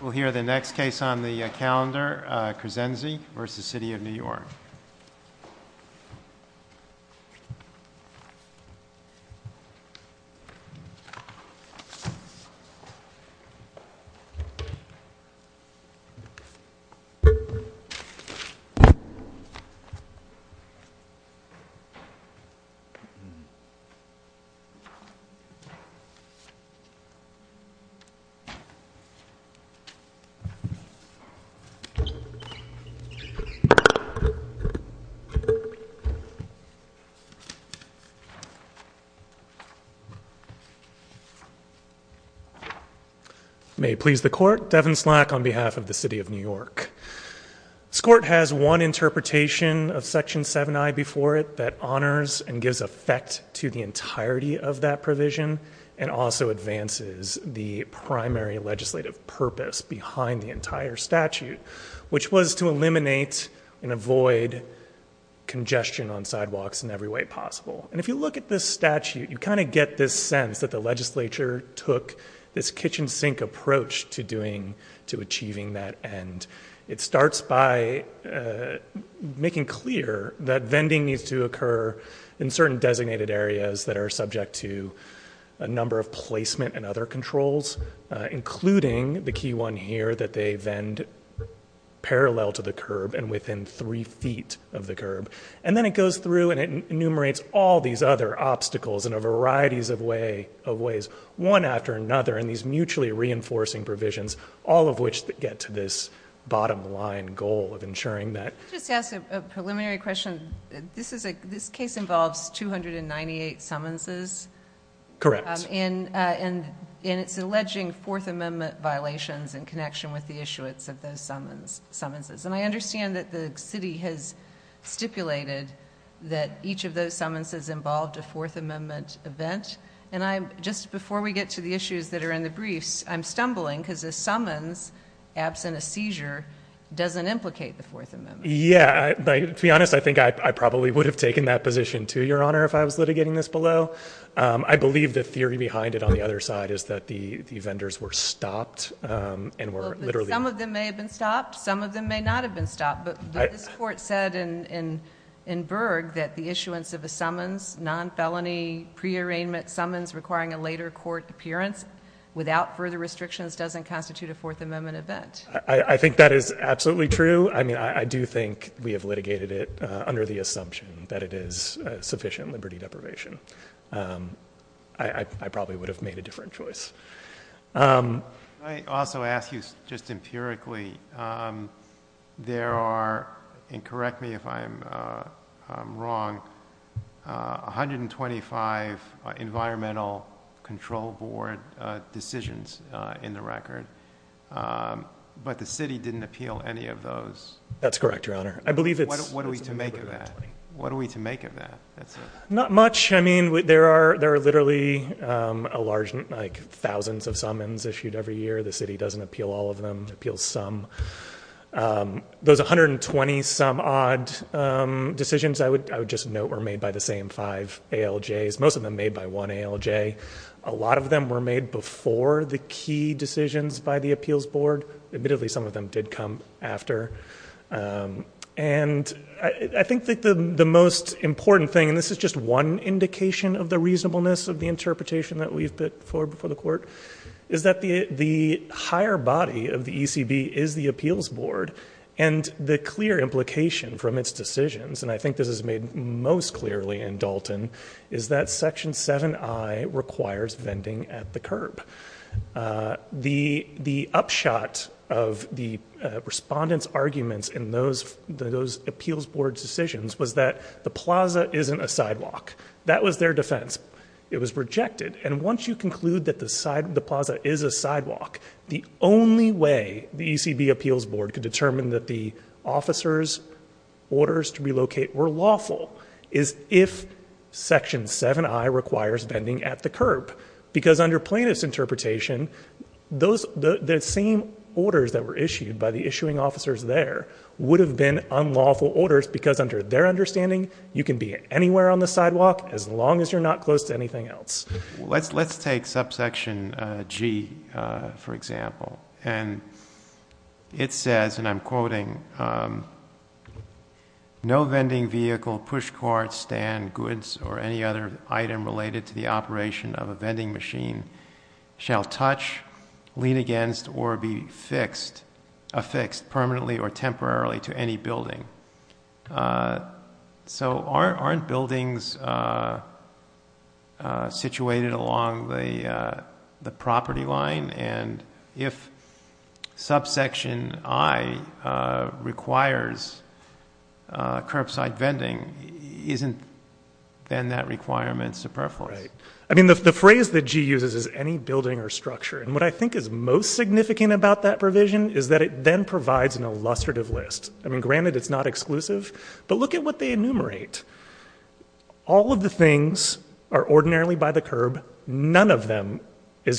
We'll hear the next case on the calendar, Crescenzi v. The City of New York. May it please the court, Devin Slack on behalf of the City of New York. This court has one interpretation of Section 7i before it that honors and gives effect to the entirety of that provision and also advances the primary legislative purpose behind the entire statute, which was to eliminate and avoid congestion on sidewalks in every way possible. And if you look at this statute, you kind of get this sense that the legislature took this kitchen sink approach to achieving that end. It starts by making clear that vending needs to occur in certain designated areas that are subject to a number of placement and other controls, including the key one here that they vend parallel to the curb and within three feet of the curb. And then it goes through and it enumerates all these other obstacles in a variety of ways, one after another, in these mutually reinforcing provisions, all of which get to this bottom line goal of ensuring that. I'll just ask a preliminary question. This case involves 298 summonses. Correct. And it's alleging Fourth Amendment violations in connection with the issuance of those summonses. And I understand that the city has stipulated that each of those summonses involved a Fourth Amendment event. And just before we get to the issues that are in the briefs, I'm stumbling because a summons, absent a seizure, doesn't implicate the Fourth Amendment. Yeah, to be honest, I think I probably would have taken that position, too, Your Honor, if I was litigating this below. I believe the theory behind it on the other side is that the vendors were stopped and were literally— Some of them may have been stopped. Some of them may not have been stopped. But this Court said in Berg that the issuance of a summons, non-felony pre-arraignment summons requiring a later court appearance without further restrictions doesn't constitute a Fourth Amendment event. I think that is absolutely true. I mean, I do think we have litigated it under the assumption that it is sufficient liberty deprivation. I probably would have made a different choice. Can I also ask you, just empirically, there are—and correct me if I'm wrong—125 Environmental Control Board decisions in the record. But the city didn't appeal any of those. That's correct, Your Honor. I believe it's— What are we to make of that? Not much. I mean, there are literally thousands of summons issued every year. The city doesn't appeal all of them. It appeals some. Those 120-some-odd decisions, I would just note, were made by the same five ALJs. Most of them made by one ALJ. A lot of them were made before the key decisions by the Appeals Board. Admittedly, some of them did come after. And I think that the most important thing—and this is just one indication of the reasonableness of the interpretation that we've put before the Court— is that the higher body of the ECB is the Appeals Board. And the clear implication from its decisions—and I think this is made most clearly in Dalton— is that Section 7i requires vending at the curb. The upshot of the respondents' arguments in those Appeals Board decisions was that the plaza isn't a sidewalk. That was their defense. It was rejected. And once you conclude that the plaza is a sidewalk, the only way the ECB Appeals Board could determine that the officers' orders to relocate were lawful is if Section 7i requires vending at the curb. Because under plaintiff's interpretation, the same orders that were issued by the issuing officers there would have been unlawful orders because, under their understanding, you can be anywhere on the sidewalk as long as you're not close to anything else. Let's take Subsection G, for example. And it says—and I'm quoting— No vending vehicle, pushcart, stand, goods, or any other item related to the operation of a vending machine shall touch, lean against, or be affixed permanently or temporarily to any building. So aren't buildings situated along the property line? And if Subsection I requires curbside vending, isn't then that requirement superfluous? Right. I mean, the phrase that G uses is any building or structure. And what I think is most significant about that provision is that it then provides an illustrative list. I mean, granted, it's not exclusive, but look at what they enumerate. All of the things are ordinarily by the curb. None of them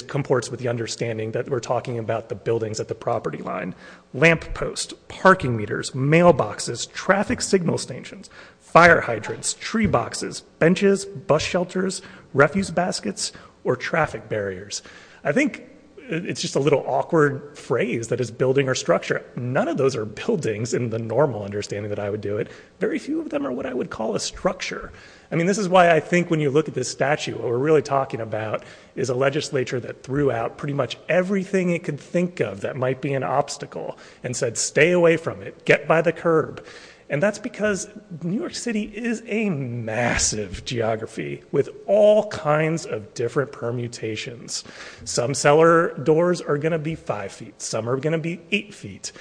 comports with the understanding that we're talking about the buildings at the property line. Lamp posts, parking meters, mailboxes, traffic signal stations, fire hydrants, tree boxes, benches, bus shelters, refuse baskets, or traffic barriers. I think it's just a little awkward phrase that is building or structure. None of those are buildings in the normal understanding that I would do it. Very few of them are what I would call a structure. I mean, this is why I think when you look at this statue, what we're really talking about is a legislature that threw out pretty much everything it could think of that might be an obstacle and said, stay away from it, get by the curb. And that's because New York City is a massive geography with all kinds of different permutations. Some cellar doors are going to be five feet. Some are going to be eight feet.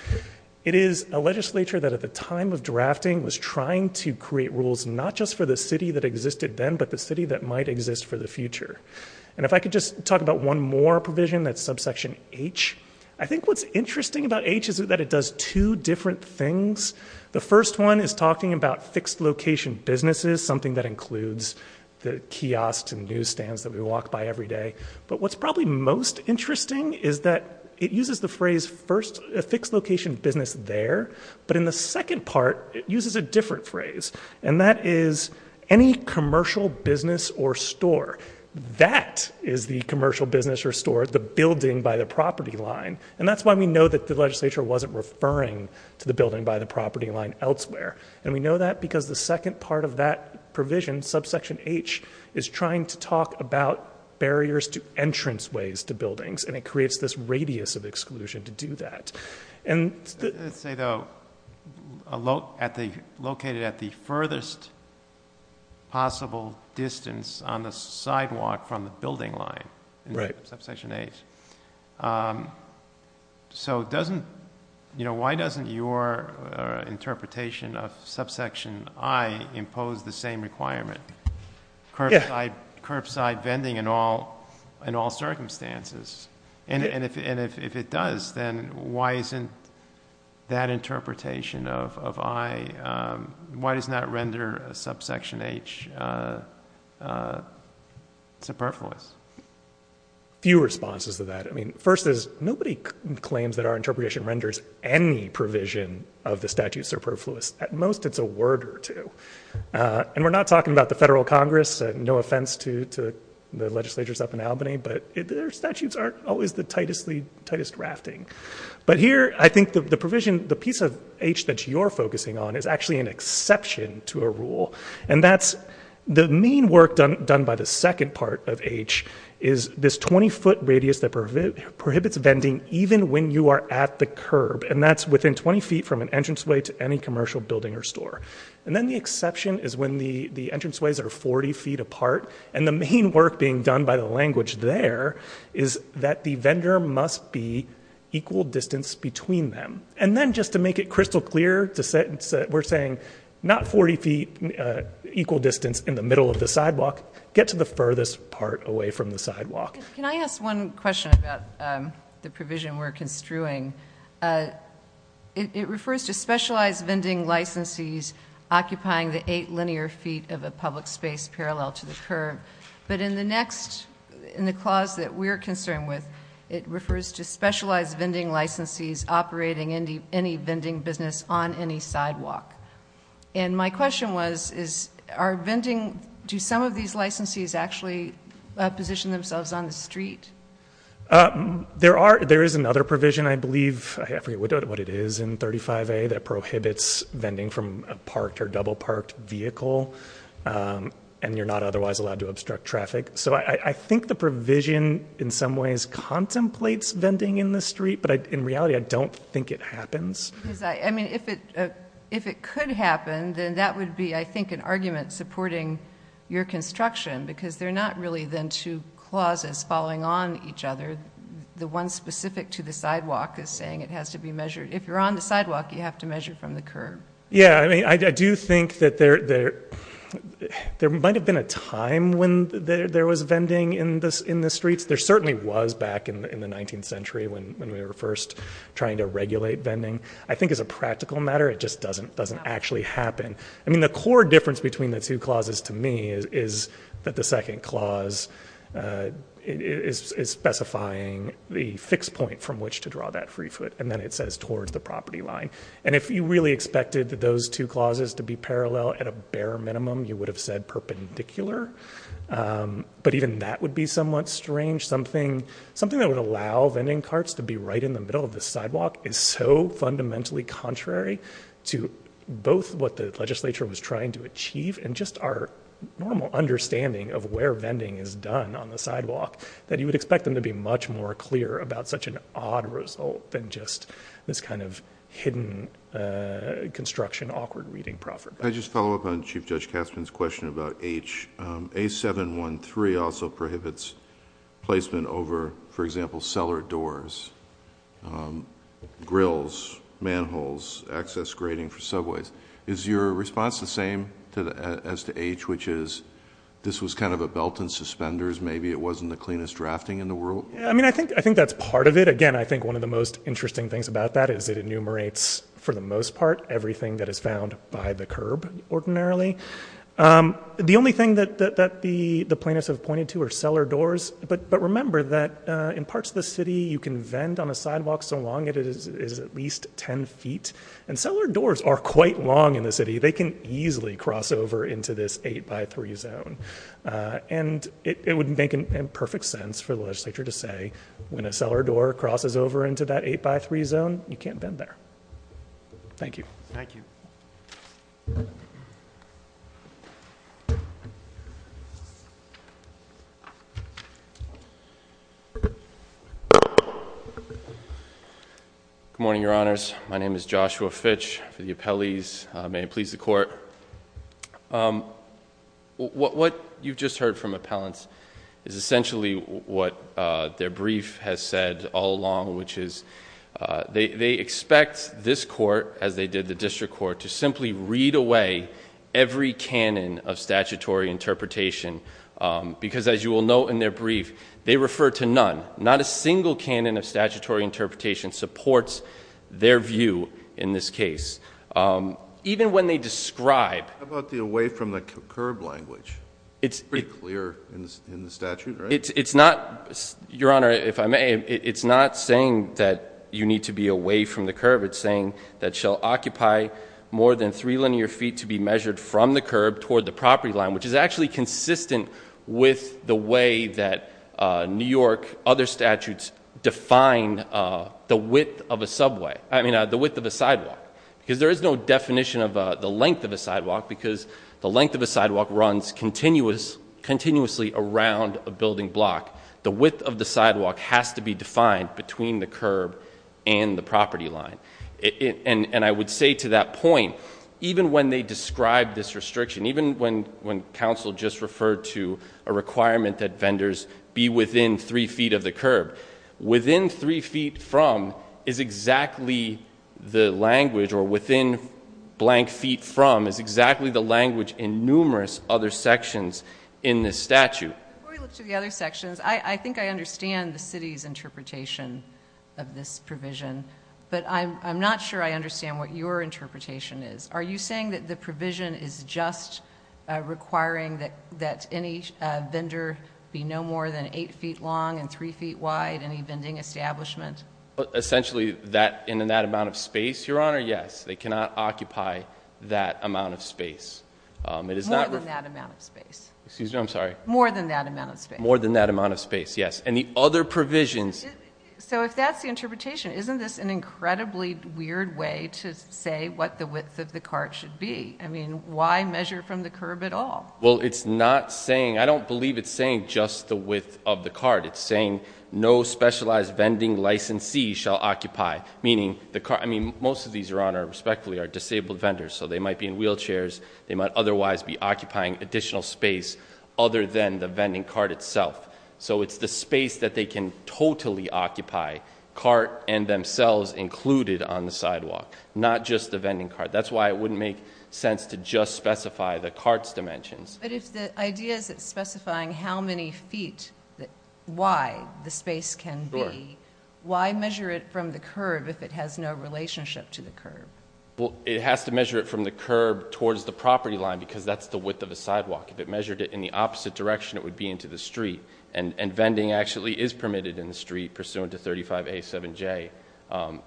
It is a legislature that at the time of drafting was trying to create rules, not just for the city that existed then, but the city that might exist for the future. And if I could just talk about one more provision, that's subsection H. I think what's interesting about H is that it does two different things. The first one is talking about fixed location businesses, something that includes the kiosks and newsstands that we walk by every day. But what's probably most interesting is that it uses the phrase first, a fixed location business there, but in the second part it uses a different phrase, and that is any commercial business or store. That is the commercial business or store, the building by the property line. And that's why we know that the legislature wasn't referring to the building by the property line elsewhere. And we know that because the second part of that provision, subsection H, is trying to talk about barriers to entrance ways to buildings, and it creates this radius of exclusion to do that. Let's say, though, located at the furthest possible distance on the sidewalk from the building line in subsection H. So why doesn't your interpretation of subsection I impose the same requirement, curbside vending in all circumstances? And if it does, then why isn't that interpretation of I, why doesn't that render subsection H superfluous? Few responses to that. I mean, first is nobody claims that our interpretation renders any provision of the statute superfluous. At most it's a word or two. And we're not talking about the Federal Congress, no offense to the legislatures up in Albany, but their statutes aren't always the tightest rafting. But here I think the provision, the piece of H that you're focusing on is actually an exception to a rule, and that's the main work done by the second part of H is this 20-foot radius that prohibits vending even when you are at the curb, and that's within 20 feet from an entranceway to any commercial building or store. And then the exception is when the entranceways are 40 feet apart, and the main work being done by the language there is that the vendor must be equal distance between them. And then just to make it crystal clear, we're saying not 40 feet equal distance in the middle of the sidewalk, get to the furthest part away from the sidewalk. Can I ask one question about the provision we're construing? It refers to specialized vending licensees occupying the eight linear feet of a public space parallel to the curb, but in the clause that we're concerned with, it refers to specialized vending licensees operating any vending business on any sidewalk. And my question was, do some of these licensees actually position themselves on the street? There is another provision, I believe, I forget what it is in 35A, that prohibits vending from a parked or double parked vehicle, and you're not otherwise allowed to obstruct traffic. So I think the provision in some ways contemplates vending in the street, but in reality, I don't think it happens. I mean, if it could happen, then that would be, I think, an argument supporting your construction, because they're not really then two clauses falling on each other. The one specific to the sidewalk is saying it has to be measured. If you're on the sidewalk, you have to measure from the curb. Yeah, I mean, I do think that there might have been a time when there was vending in the streets. There certainly was back in the 19th century when we were first trying to regulate vending. I think as a practical matter, it just doesn't actually happen. I mean, the core difference between the two clauses to me is that the second clause is specifying the fixed point from which to draw that free foot, and then it says towards the property line. And if you really expected those two clauses to be parallel at a bare minimum, you would have said perpendicular. But even that would be somewhat strange. Something that would allow vending carts to be right in the middle of the sidewalk is so fundamentally contrary to both what the legislature was trying to achieve and just our normal understanding of where vending is done on the sidewalk that you would expect them to be much more clear about such an odd result than just this kind of hidden construction, awkward reading property. Can I just follow up on Chief Judge Katzmann's question about H? A713 also prohibits placement over, for example, cellar doors, grills, manholes, access grading for subways. Is your response the same as to H, which is this was kind of a belt and suspenders? Maybe it wasn't the cleanest drafting in the world? I mean, I think that's part of it. Again, I think one of the most interesting things about that is it enumerates, for the most part, everything that is found by the curb ordinarily. The only thing that the plaintiffs have pointed to are cellar doors. But remember that in parts of the city you can vend on a sidewalk so long it is at least 10 feet. And cellar doors are quite long in the city. They can easily cross over into this 8 by 3 zone. And it would make perfect sense for the legislature to say when a cellar door crosses over into that 8 by 3 zone, you can't vend there. Thank you. Thank you. Good morning, your honors. My name is Joshua Fitch for the appellees. May it please the court. What you've just heard from appellants is essentially what their brief has said all along, which is they expect this court, as they did the district court, to simply read away every canon of statutory interpretation. Because as you will note in their brief, they refer to none. Not a single canon of statutory interpretation supports their view in this case. Even when they describe- How about the away from the curb language? It's pretty clear in the statute, right? It's not, your honor, if I may, it's not saying that you need to be away from the curb. It's saying that shall occupy more than three linear feet to be measured from the curb toward the property line, which is actually consistent with the way that New York, other statutes, define the width of a subway. I mean, the width of a sidewalk. Because there is no definition of the length of a sidewalk, because the length of a sidewalk runs continuously around a building block. The width of the sidewalk has to be defined between the curb and the property line. And I would say to that point, even when they describe this restriction, even when counsel just referred to a requirement that vendors be within three feet of the curb, within three feet from is exactly the language, or within blank feet from, is exactly the language in numerous other sections in this statute. Before we look to the other sections, I think I understand the city's interpretation of this provision. But I'm not sure I understand what your interpretation is. Are you saying that the provision is just requiring that any vendor be no more than eight feet long and three feet wide, any vending establishment? Essentially, in that amount of space, Your Honor, yes. They cannot occupy that amount of space. More than that amount of space. Excuse me, I'm sorry. More than that amount of space. More than that amount of space, yes. And the other provisions- So if that's the interpretation, isn't this an incredibly weird way to say what the width of the cart should be? I mean, why measure from the curb at all? Well, it's not saying, I don't believe it's saying just the width of the cart. It's saying no specialized vending licensee shall occupy. Meaning, most of these, Your Honor, respectfully, are disabled vendors. So they might be in wheelchairs. They might otherwise be occupying additional space other than the vending cart itself. So it's the space that they can totally occupy, cart and themselves included on the sidewalk. Not just the vending cart. That's why it wouldn't make sense to just specify the cart's dimensions. But if the idea is it's specifying how many feet wide the space can be, why measure it from the curb if it has no relationship to the curb? Well, it has to measure it from the curb towards the property line because that's the width of the sidewalk. If it measured it in the opposite direction, it would be into the street. And vending actually is permitted in the street pursuant to 35A7J.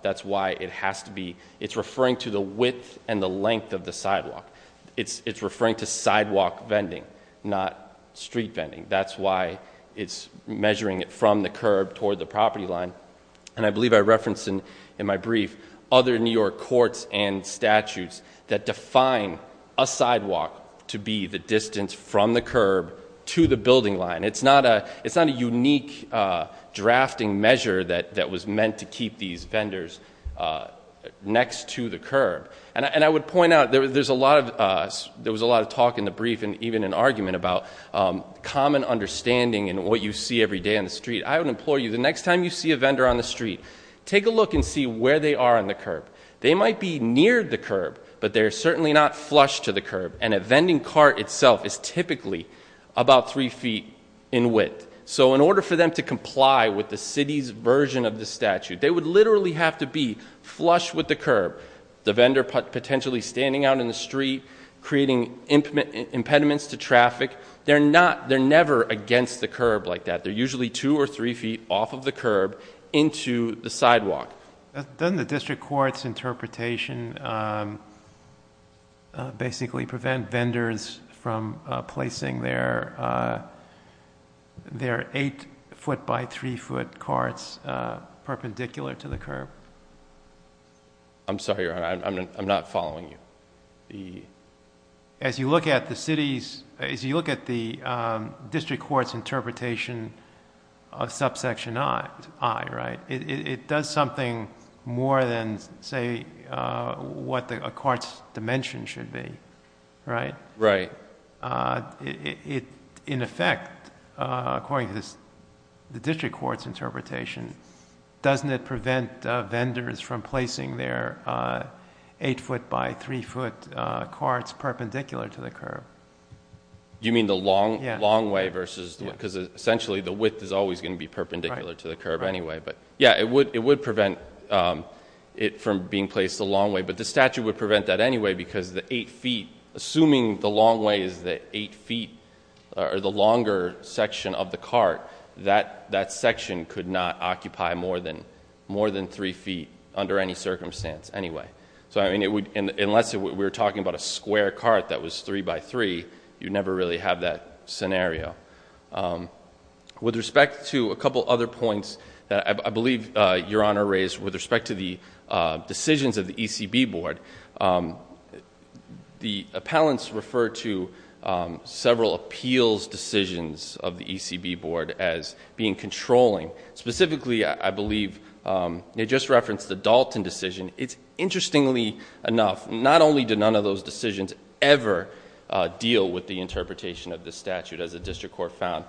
That's why it has to be, it's referring to the width and the length of the sidewalk. It's referring to sidewalk vending, not street vending. That's why it's measuring it from the curb toward the property line. And I believe I referenced in my brief other New York courts and statutes that define a sidewalk to be the distance from the curb to the building line. It's not a unique drafting measure that was meant to keep these vendors next to the curb. And I would point out, there was a lot of talk in the brief and even an argument about common understanding in what you see every day on the street. I would implore you, the next time you see a vendor on the street, take a look and see where they are on the curb. They might be near the curb, but they're certainly not flush to the curb. And a vending cart itself is typically about three feet in width. So in order for them to comply with the city's version of the statute, they would literally have to be flush with the curb. The vendor potentially standing out in the street, creating impediments to traffic. They're never against the curb like that. They're usually two or three feet off of the curb into the sidewalk. Doesn't the district court's interpretation basically prevent vendors from placing their eight foot by three foot carts perpendicular to the curb? I'm sorry, Your Honor. I'm not following you. As you look at the district court's interpretation of subsection I, right? It does something more than, say, what a cart's dimension should be, right? Right. In effect, according to the district court's interpretation, doesn't it prevent vendors from placing their eight foot by three foot carts perpendicular to the curb? You mean the long way versus the width? Because essentially the width is always going to be perpendicular to the curb anyway. Yeah, it would prevent it from being placed the long way. But the statute would prevent that anyway because the eight feet, assuming the long way is the eight feet or the longer section of the cart, that section could not occupy more than three feet under any circumstance anyway. Unless we're talking about a square cart that was three by three, you'd never really have that scenario. With respect to a couple other points that I believe Your Honor raised with respect to the decisions of the ECB board, the appellants refer to several appeals decisions of the ECB board as being controlling. Specifically, I believe they just referenced the Dalton decision. It's interestingly enough, not only did none of those decisions ever deal with the interpretation of the statute as the district court found,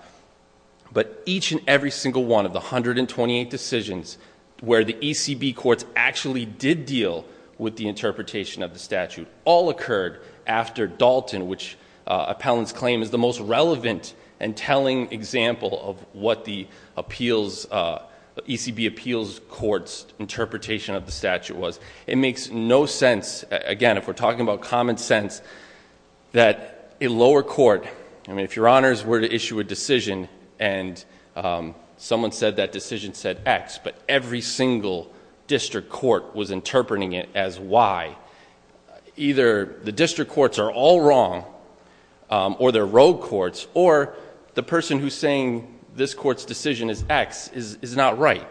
but each and every single one of the 128 decisions where the ECB courts actually did deal with the interpretation of the statute all occurred after Dalton, which appellants claim is the most relevant and telling example of what the ECB appeals court's interpretation of the statute was. It makes no sense, again, if we're talking about common sense, that a lower court, I mean if Your Honors were to issue a decision and someone said that decision said X, but every single district court was interpreting it as Y. Either the district courts are all wrong, or they're rogue courts, or the person who's saying this court's decision is X is not right.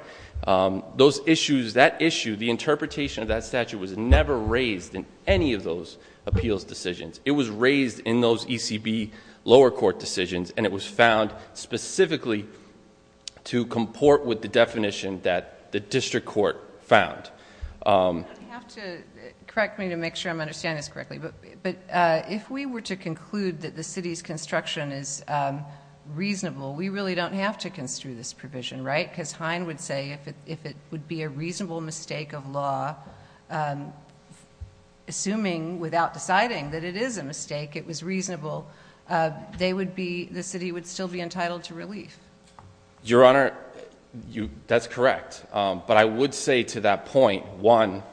Those issues, that issue, the interpretation of that statute was never raised in any of those appeals decisions. It was raised in those ECB lower court decisions and it was found specifically to comport with the definition that the district court found. You're going to have to correct me to make sure I'm understanding this correctly, but if we were to conclude that the city's construction is reasonable, we really don't have to construe this provision, right? Because Hine would say if it would be a reasonable mistake of law, assuming without deciding that it is a mistake, it was reasonable, the city would still be entitled to relief. Your Honor, that's correct. But I would say to that point, one,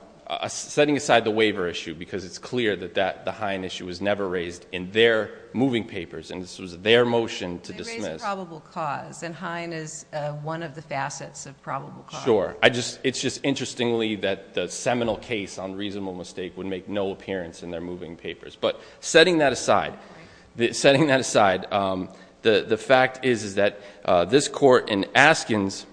setting aside the waiver issue, because it's clear that the Hine issue was never raised in their moving papers, and this was their motion to dismiss. They raised a probable cause, and Hine is one of the facets of probable cause. Sure. It's just interestingly that the seminal case on reasonable mistake would make no appearance in their moving papers. But setting that aside, the fact is that this court in Askins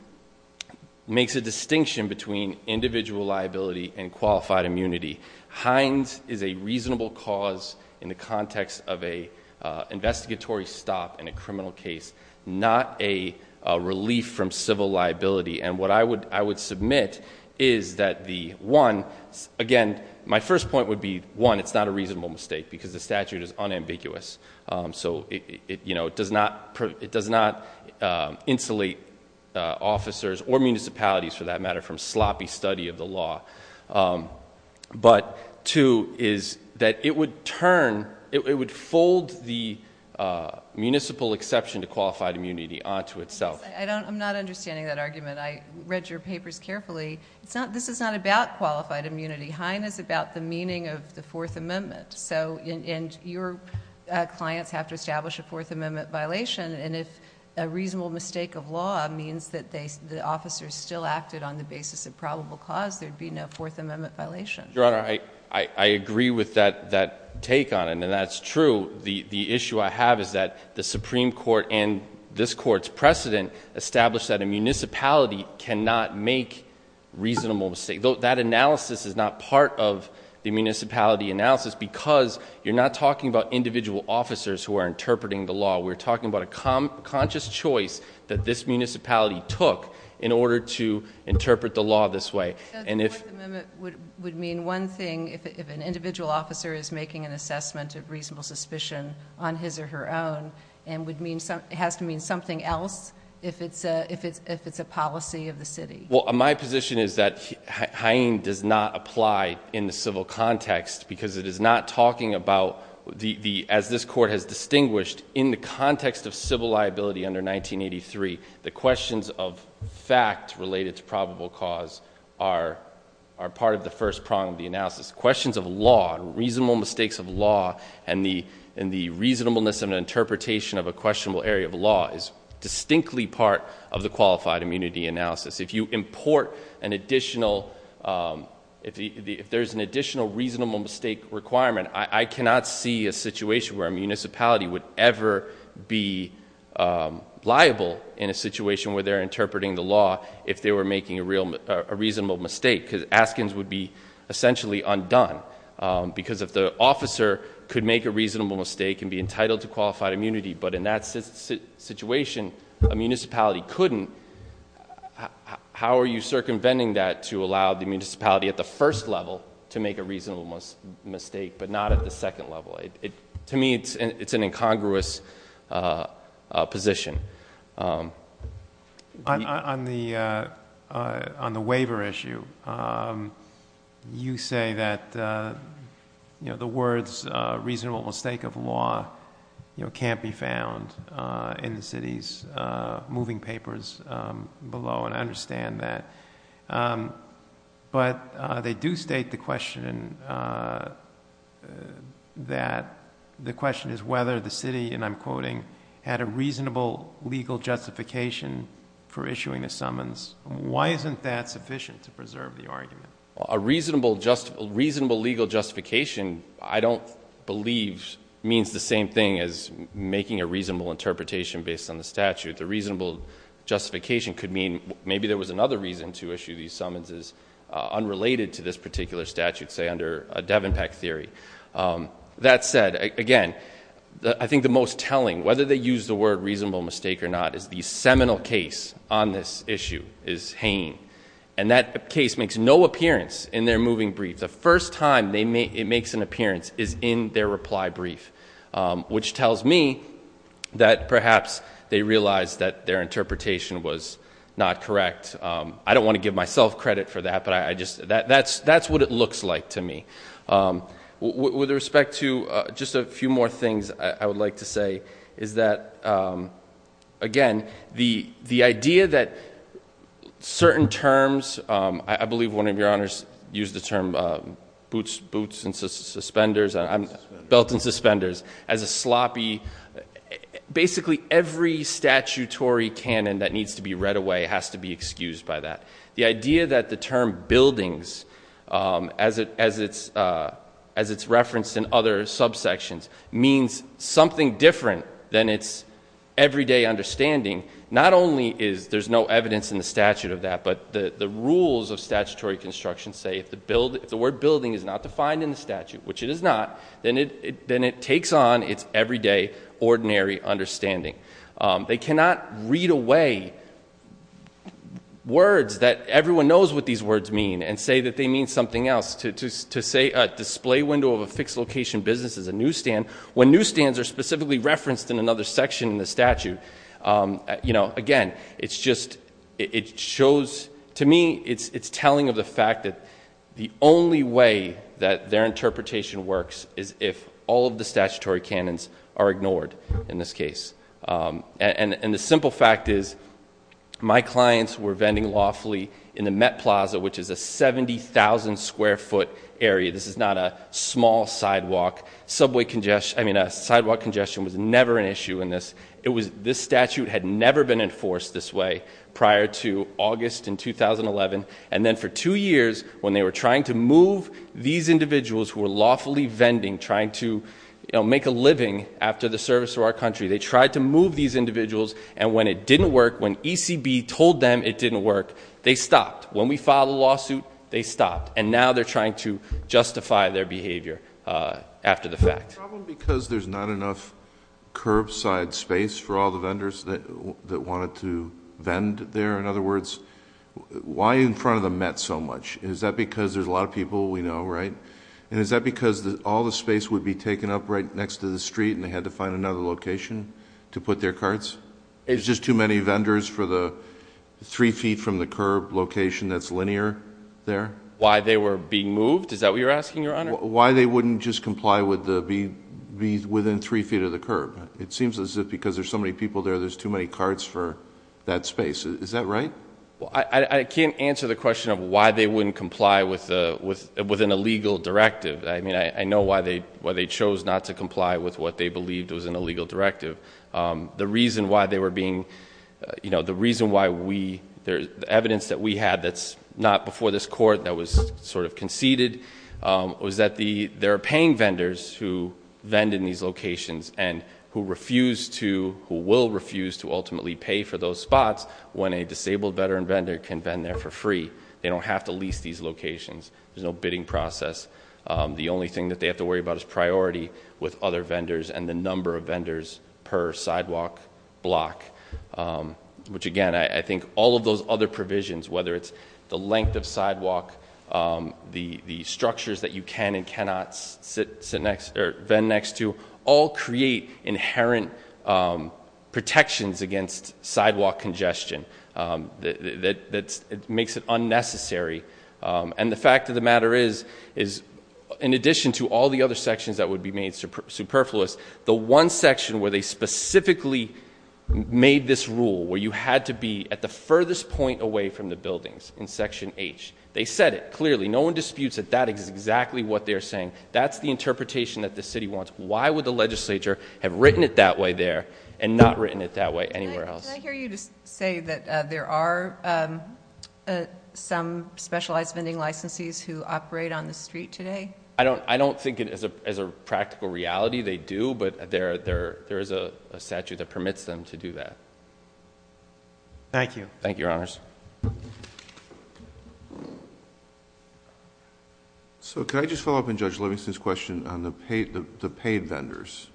makes a distinction between individual liability and qualified immunity. Hines is a reasonable cause in the context of a investigatory stop in a criminal case, not a relief from civil liability. And what I would submit is that the one, again, my first point would be one, it's not a reasonable mistake because the statute is unambiguous. So it does not insulate officers or municipalities, for that matter, from sloppy study of the law. But two is that it would turn, it would fold the municipal exception to qualified immunity onto itself. I'm not understanding that argument. I read your papers carefully. This is not about qualified immunity. Hine is about the meaning of the Fourth Amendment. And your clients have to establish a Fourth Amendment violation, and if a reasonable mistake of law means that the officers still acted on the basis of probable cause, there would be no Fourth Amendment violation. Your Honor, I agree with that take on it, and that's true. The issue I have is that the Supreme Court and this Court's precedent establish that a municipality cannot make reasonable mistakes. That analysis is not part of the municipality analysis because you're not talking about individual officers who are interpreting the law. We're talking about a conscious choice that this municipality took in order to interpret the law this way. And if- The Fourth Amendment would mean one thing if an individual officer is making an assessment of reasonable suspicion on his or her own, and would mean, has to mean something else if it's a policy of the city. Well, my position is that Hine does not apply in the civil context because it is not talking about, as this Court has distinguished, in the context of civil liability under 1983, the questions of fact related to probable cause are part of the first prong of the analysis. Questions of law, reasonable mistakes of law, and the reasonableness of an interpretation of a questionable area of law is distinctly part of the qualified immunity analysis. If you import an additional, if there's an additional reasonable mistake requirement, I cannot see a situation where a municipality would ever be liable in a situation where they're interpreting the law if they were making a reasonable mistake. Because Askins would be essentially undone. Because if the officer could make a reasonable mistake and be entitled to qualified immunity, but in that situation, a municipality couldn't, how are you circumventing that to allow the municipality at the first level to make a reasonable mistake, but not at the second level? To me, it's an incongruous position. On the waiver issue, you say that the words, reasonable mistake of law, can't be found in the city's moving papers below, and I understand that. But they do state the question that, the question is whether the city, and I'm quoting, had a reasonable legal justification for issuing the summons. Why isn't that sufficient to preserve the argument? A reasonable legal justification, I don't believe, means the same thing as making a reasonable interpretation based on the statute. The reasonable justification could mean maybe there was another reason to issue these summonses unrelated to this particular statute, say under a Devon Peck theory. That said, again, I think the most telling, whether they use the word reasonable mistake or not, is the seminal case on this issue is Hain. And that case makes no appearance in their moving brief. The first time it makes an appearance is in their reply brief, which tells me that perhaps they realized that their interpretation was not correct. I don't want to give myself credit for that, but that's what it looks like to me. With respect to just a few more things I would like to say, is that, again, the idea that certain terms, I believe one of your honors used the term boots and suspenders, belt and suspenders, as a sloppy, basically every statutory canon that needs to be read away has to be excused by that. The idea that the term buildings, as it's referenced in other subsections, means something different than its everyday understanding, not only is there no evidence in the statute of that, but the rules of statutory construction say if the word building is not defined in the statute, which it is not, then it takes on its everyday, ordinary understanding. They cannot read away words that everyone knows what these words mean and say that they mean something else. To say a display window of a fixed location business is a newsstand, when newsstands are specifically referenced in another section in the statute, again, to me it's telling of the fact that the only way that their interpretation works is if all of the statutory canons are ignored in this case. The simple fact is my clients were vending lawfully in the Met Plaza, which is a 70,000 square foot area. This is not a small sidewalk. Sidewalk congestion was never an issue in this. This statute had never been enforced this way prior to August in 2011, and then for two years when they were trying to move these individuals who were lawfully vending, trying to make a living after the service to our country, they tried to move these individuals, and when it didn't work, when ECB told them it didn't work, they stopped. When we filed a lawsuit, they stopped. And now they're trying to justify their behavior after the fact. Is there a problem because there's not enough curbside space for all the vendors that wanted to vend there? In other words, why in front of the Met so much? Is that because there's a lot of people we know, right? And is that because all the space would be taken up right next to the street and they had to find another location to put their carts? Is it just too many vendors for the three feet from the curb location that's linear there? Why they were being moved? Is that what you're asking, Your Honor? Why they wouldn't just comply with the be within three feet of the curb. It seems as if because there's so many people there, there's too many carts for that space. Is that right? I can't answer the question of why they wouldn't comply with an illegal directive. I mean, I know why they chose not to comply with what they believed was an illegal directive. The reason why they were being, you know, the reason why we, the evidence that we had that's not before this court that was sort of conceded, was that there are paying vendors who vend in these locations and who refuse to, who will refuse to ultimately pay for those spots when a disabled veteran vendor can vend there for free. They don't have to lease these locations. There's no bidding process. The only thing that they have to worry about is priority with other vendors and the number of vendors per sidewalk block, which, again, I think all of those other provisions, whether it's the length of sidewalk, the structures that you can and cannot sit next, or vend next to, all create inherent protections against sidewalk congestion that makes it unnecessary. And the fact of the matter is, in addition to all the other sections that would be made superfluous, the one section where they specifically made this rule, where you had to be at the furthest point away from the buildings in Section H, they said it clearly. No one disputes that that is exactly what they're saying. That's the interpretation that the city wants. Why would the legislature have written it that way there and not written it that way anywhere else? Did I hear you say that there are some specialized vending licensees who operate on the street today? I don't think it is a practical reality. They do, but there is a statute that permits them to do that. Thank you. Thank you, Your Honors. Could I just follow up on Judge Livingston's question on the paid vendors,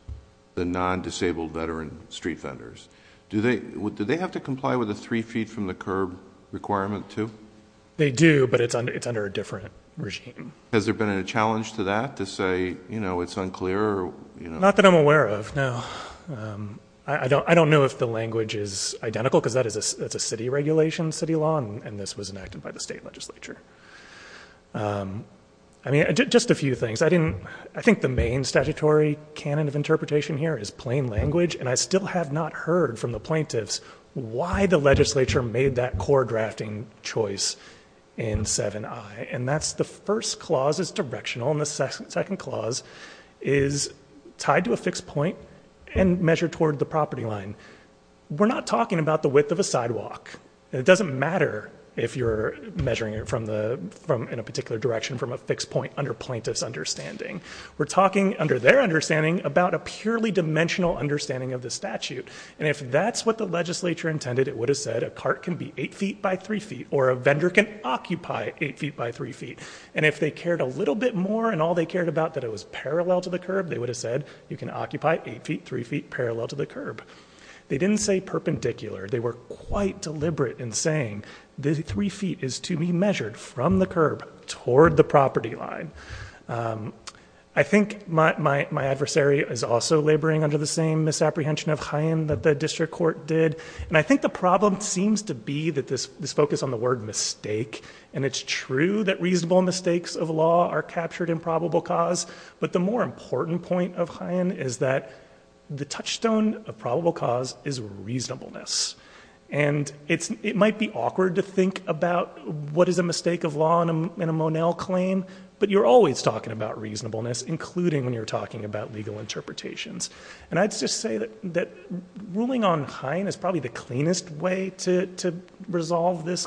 the non-disabled veteran street vendors? Do they have to comply with the three feet from the curb requirement, too? They do, but it's under a different regime. Has there been a challenge to that, to say it's unclear? Not that I'm aware of, no. I don't know if the language is identical because that is a city regulation, city law, and this was enacted by the state legislature. I mean, just a few things. I think the main statutory canon of interpretation here is plain language, and I still have not heard from the plaintiffs why the legislature made that core drafting choice in 7i. And that's the first clause is directional, and the second clause is tied to a fixed point and measured toward the property line. We're not talking about the width of a sidewalk. It doesn't matter if you're measuring it in a particular direction from a fixed point under plaintiff's understanding. We're talking under their understanding about a purely dimensional understanding of the statute, and if that's what the legislature intended, it would have said a cart can be 8 feet by 3 feet or a vendor can occupy 8 feet by 3 feet, and if they cared a little bit more and all they cared about that it was parallel to the curb, they would have said you can occupy 8 feet 3 feet parallel to the curb. They didn't say perpendicular. They were quite deliberate in saying the 3 feet is to be measured from the curb toward the property line. I think my adversary is also laboring under the same misapprehension of Chaim that the district court did, and I think the problem seems to be that this focus on the word mistake, and it's true that reasonable mistakes of law are captured in probable cause, but the more important point of Chaim is that the touchstone of probable cause is reasonableness, and it might be awkward to think about what is a mistake of law in a Monel claim, but you're always talking about reasonableness, including when you're talking about legal interpretations, and I'd just say that ruling on Chaim is probably the cleanest way to resolve this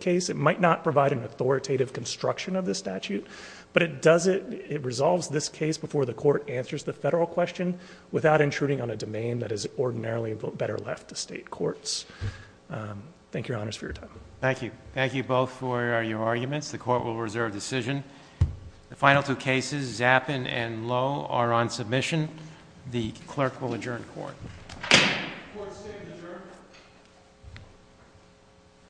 case. It might not provide an authoritative construction of the statute, but it resolves this case before the court answers the federal question without intruding on a domain that is ordinarily better left to state courts. Thank you, Your Honors, for your time. Thank you. Thank you both for your arguments. The court will reserve decision. The final two cases, Zappin and Lowe, are on submission. The clerk will adjourn court. Court is adjourned.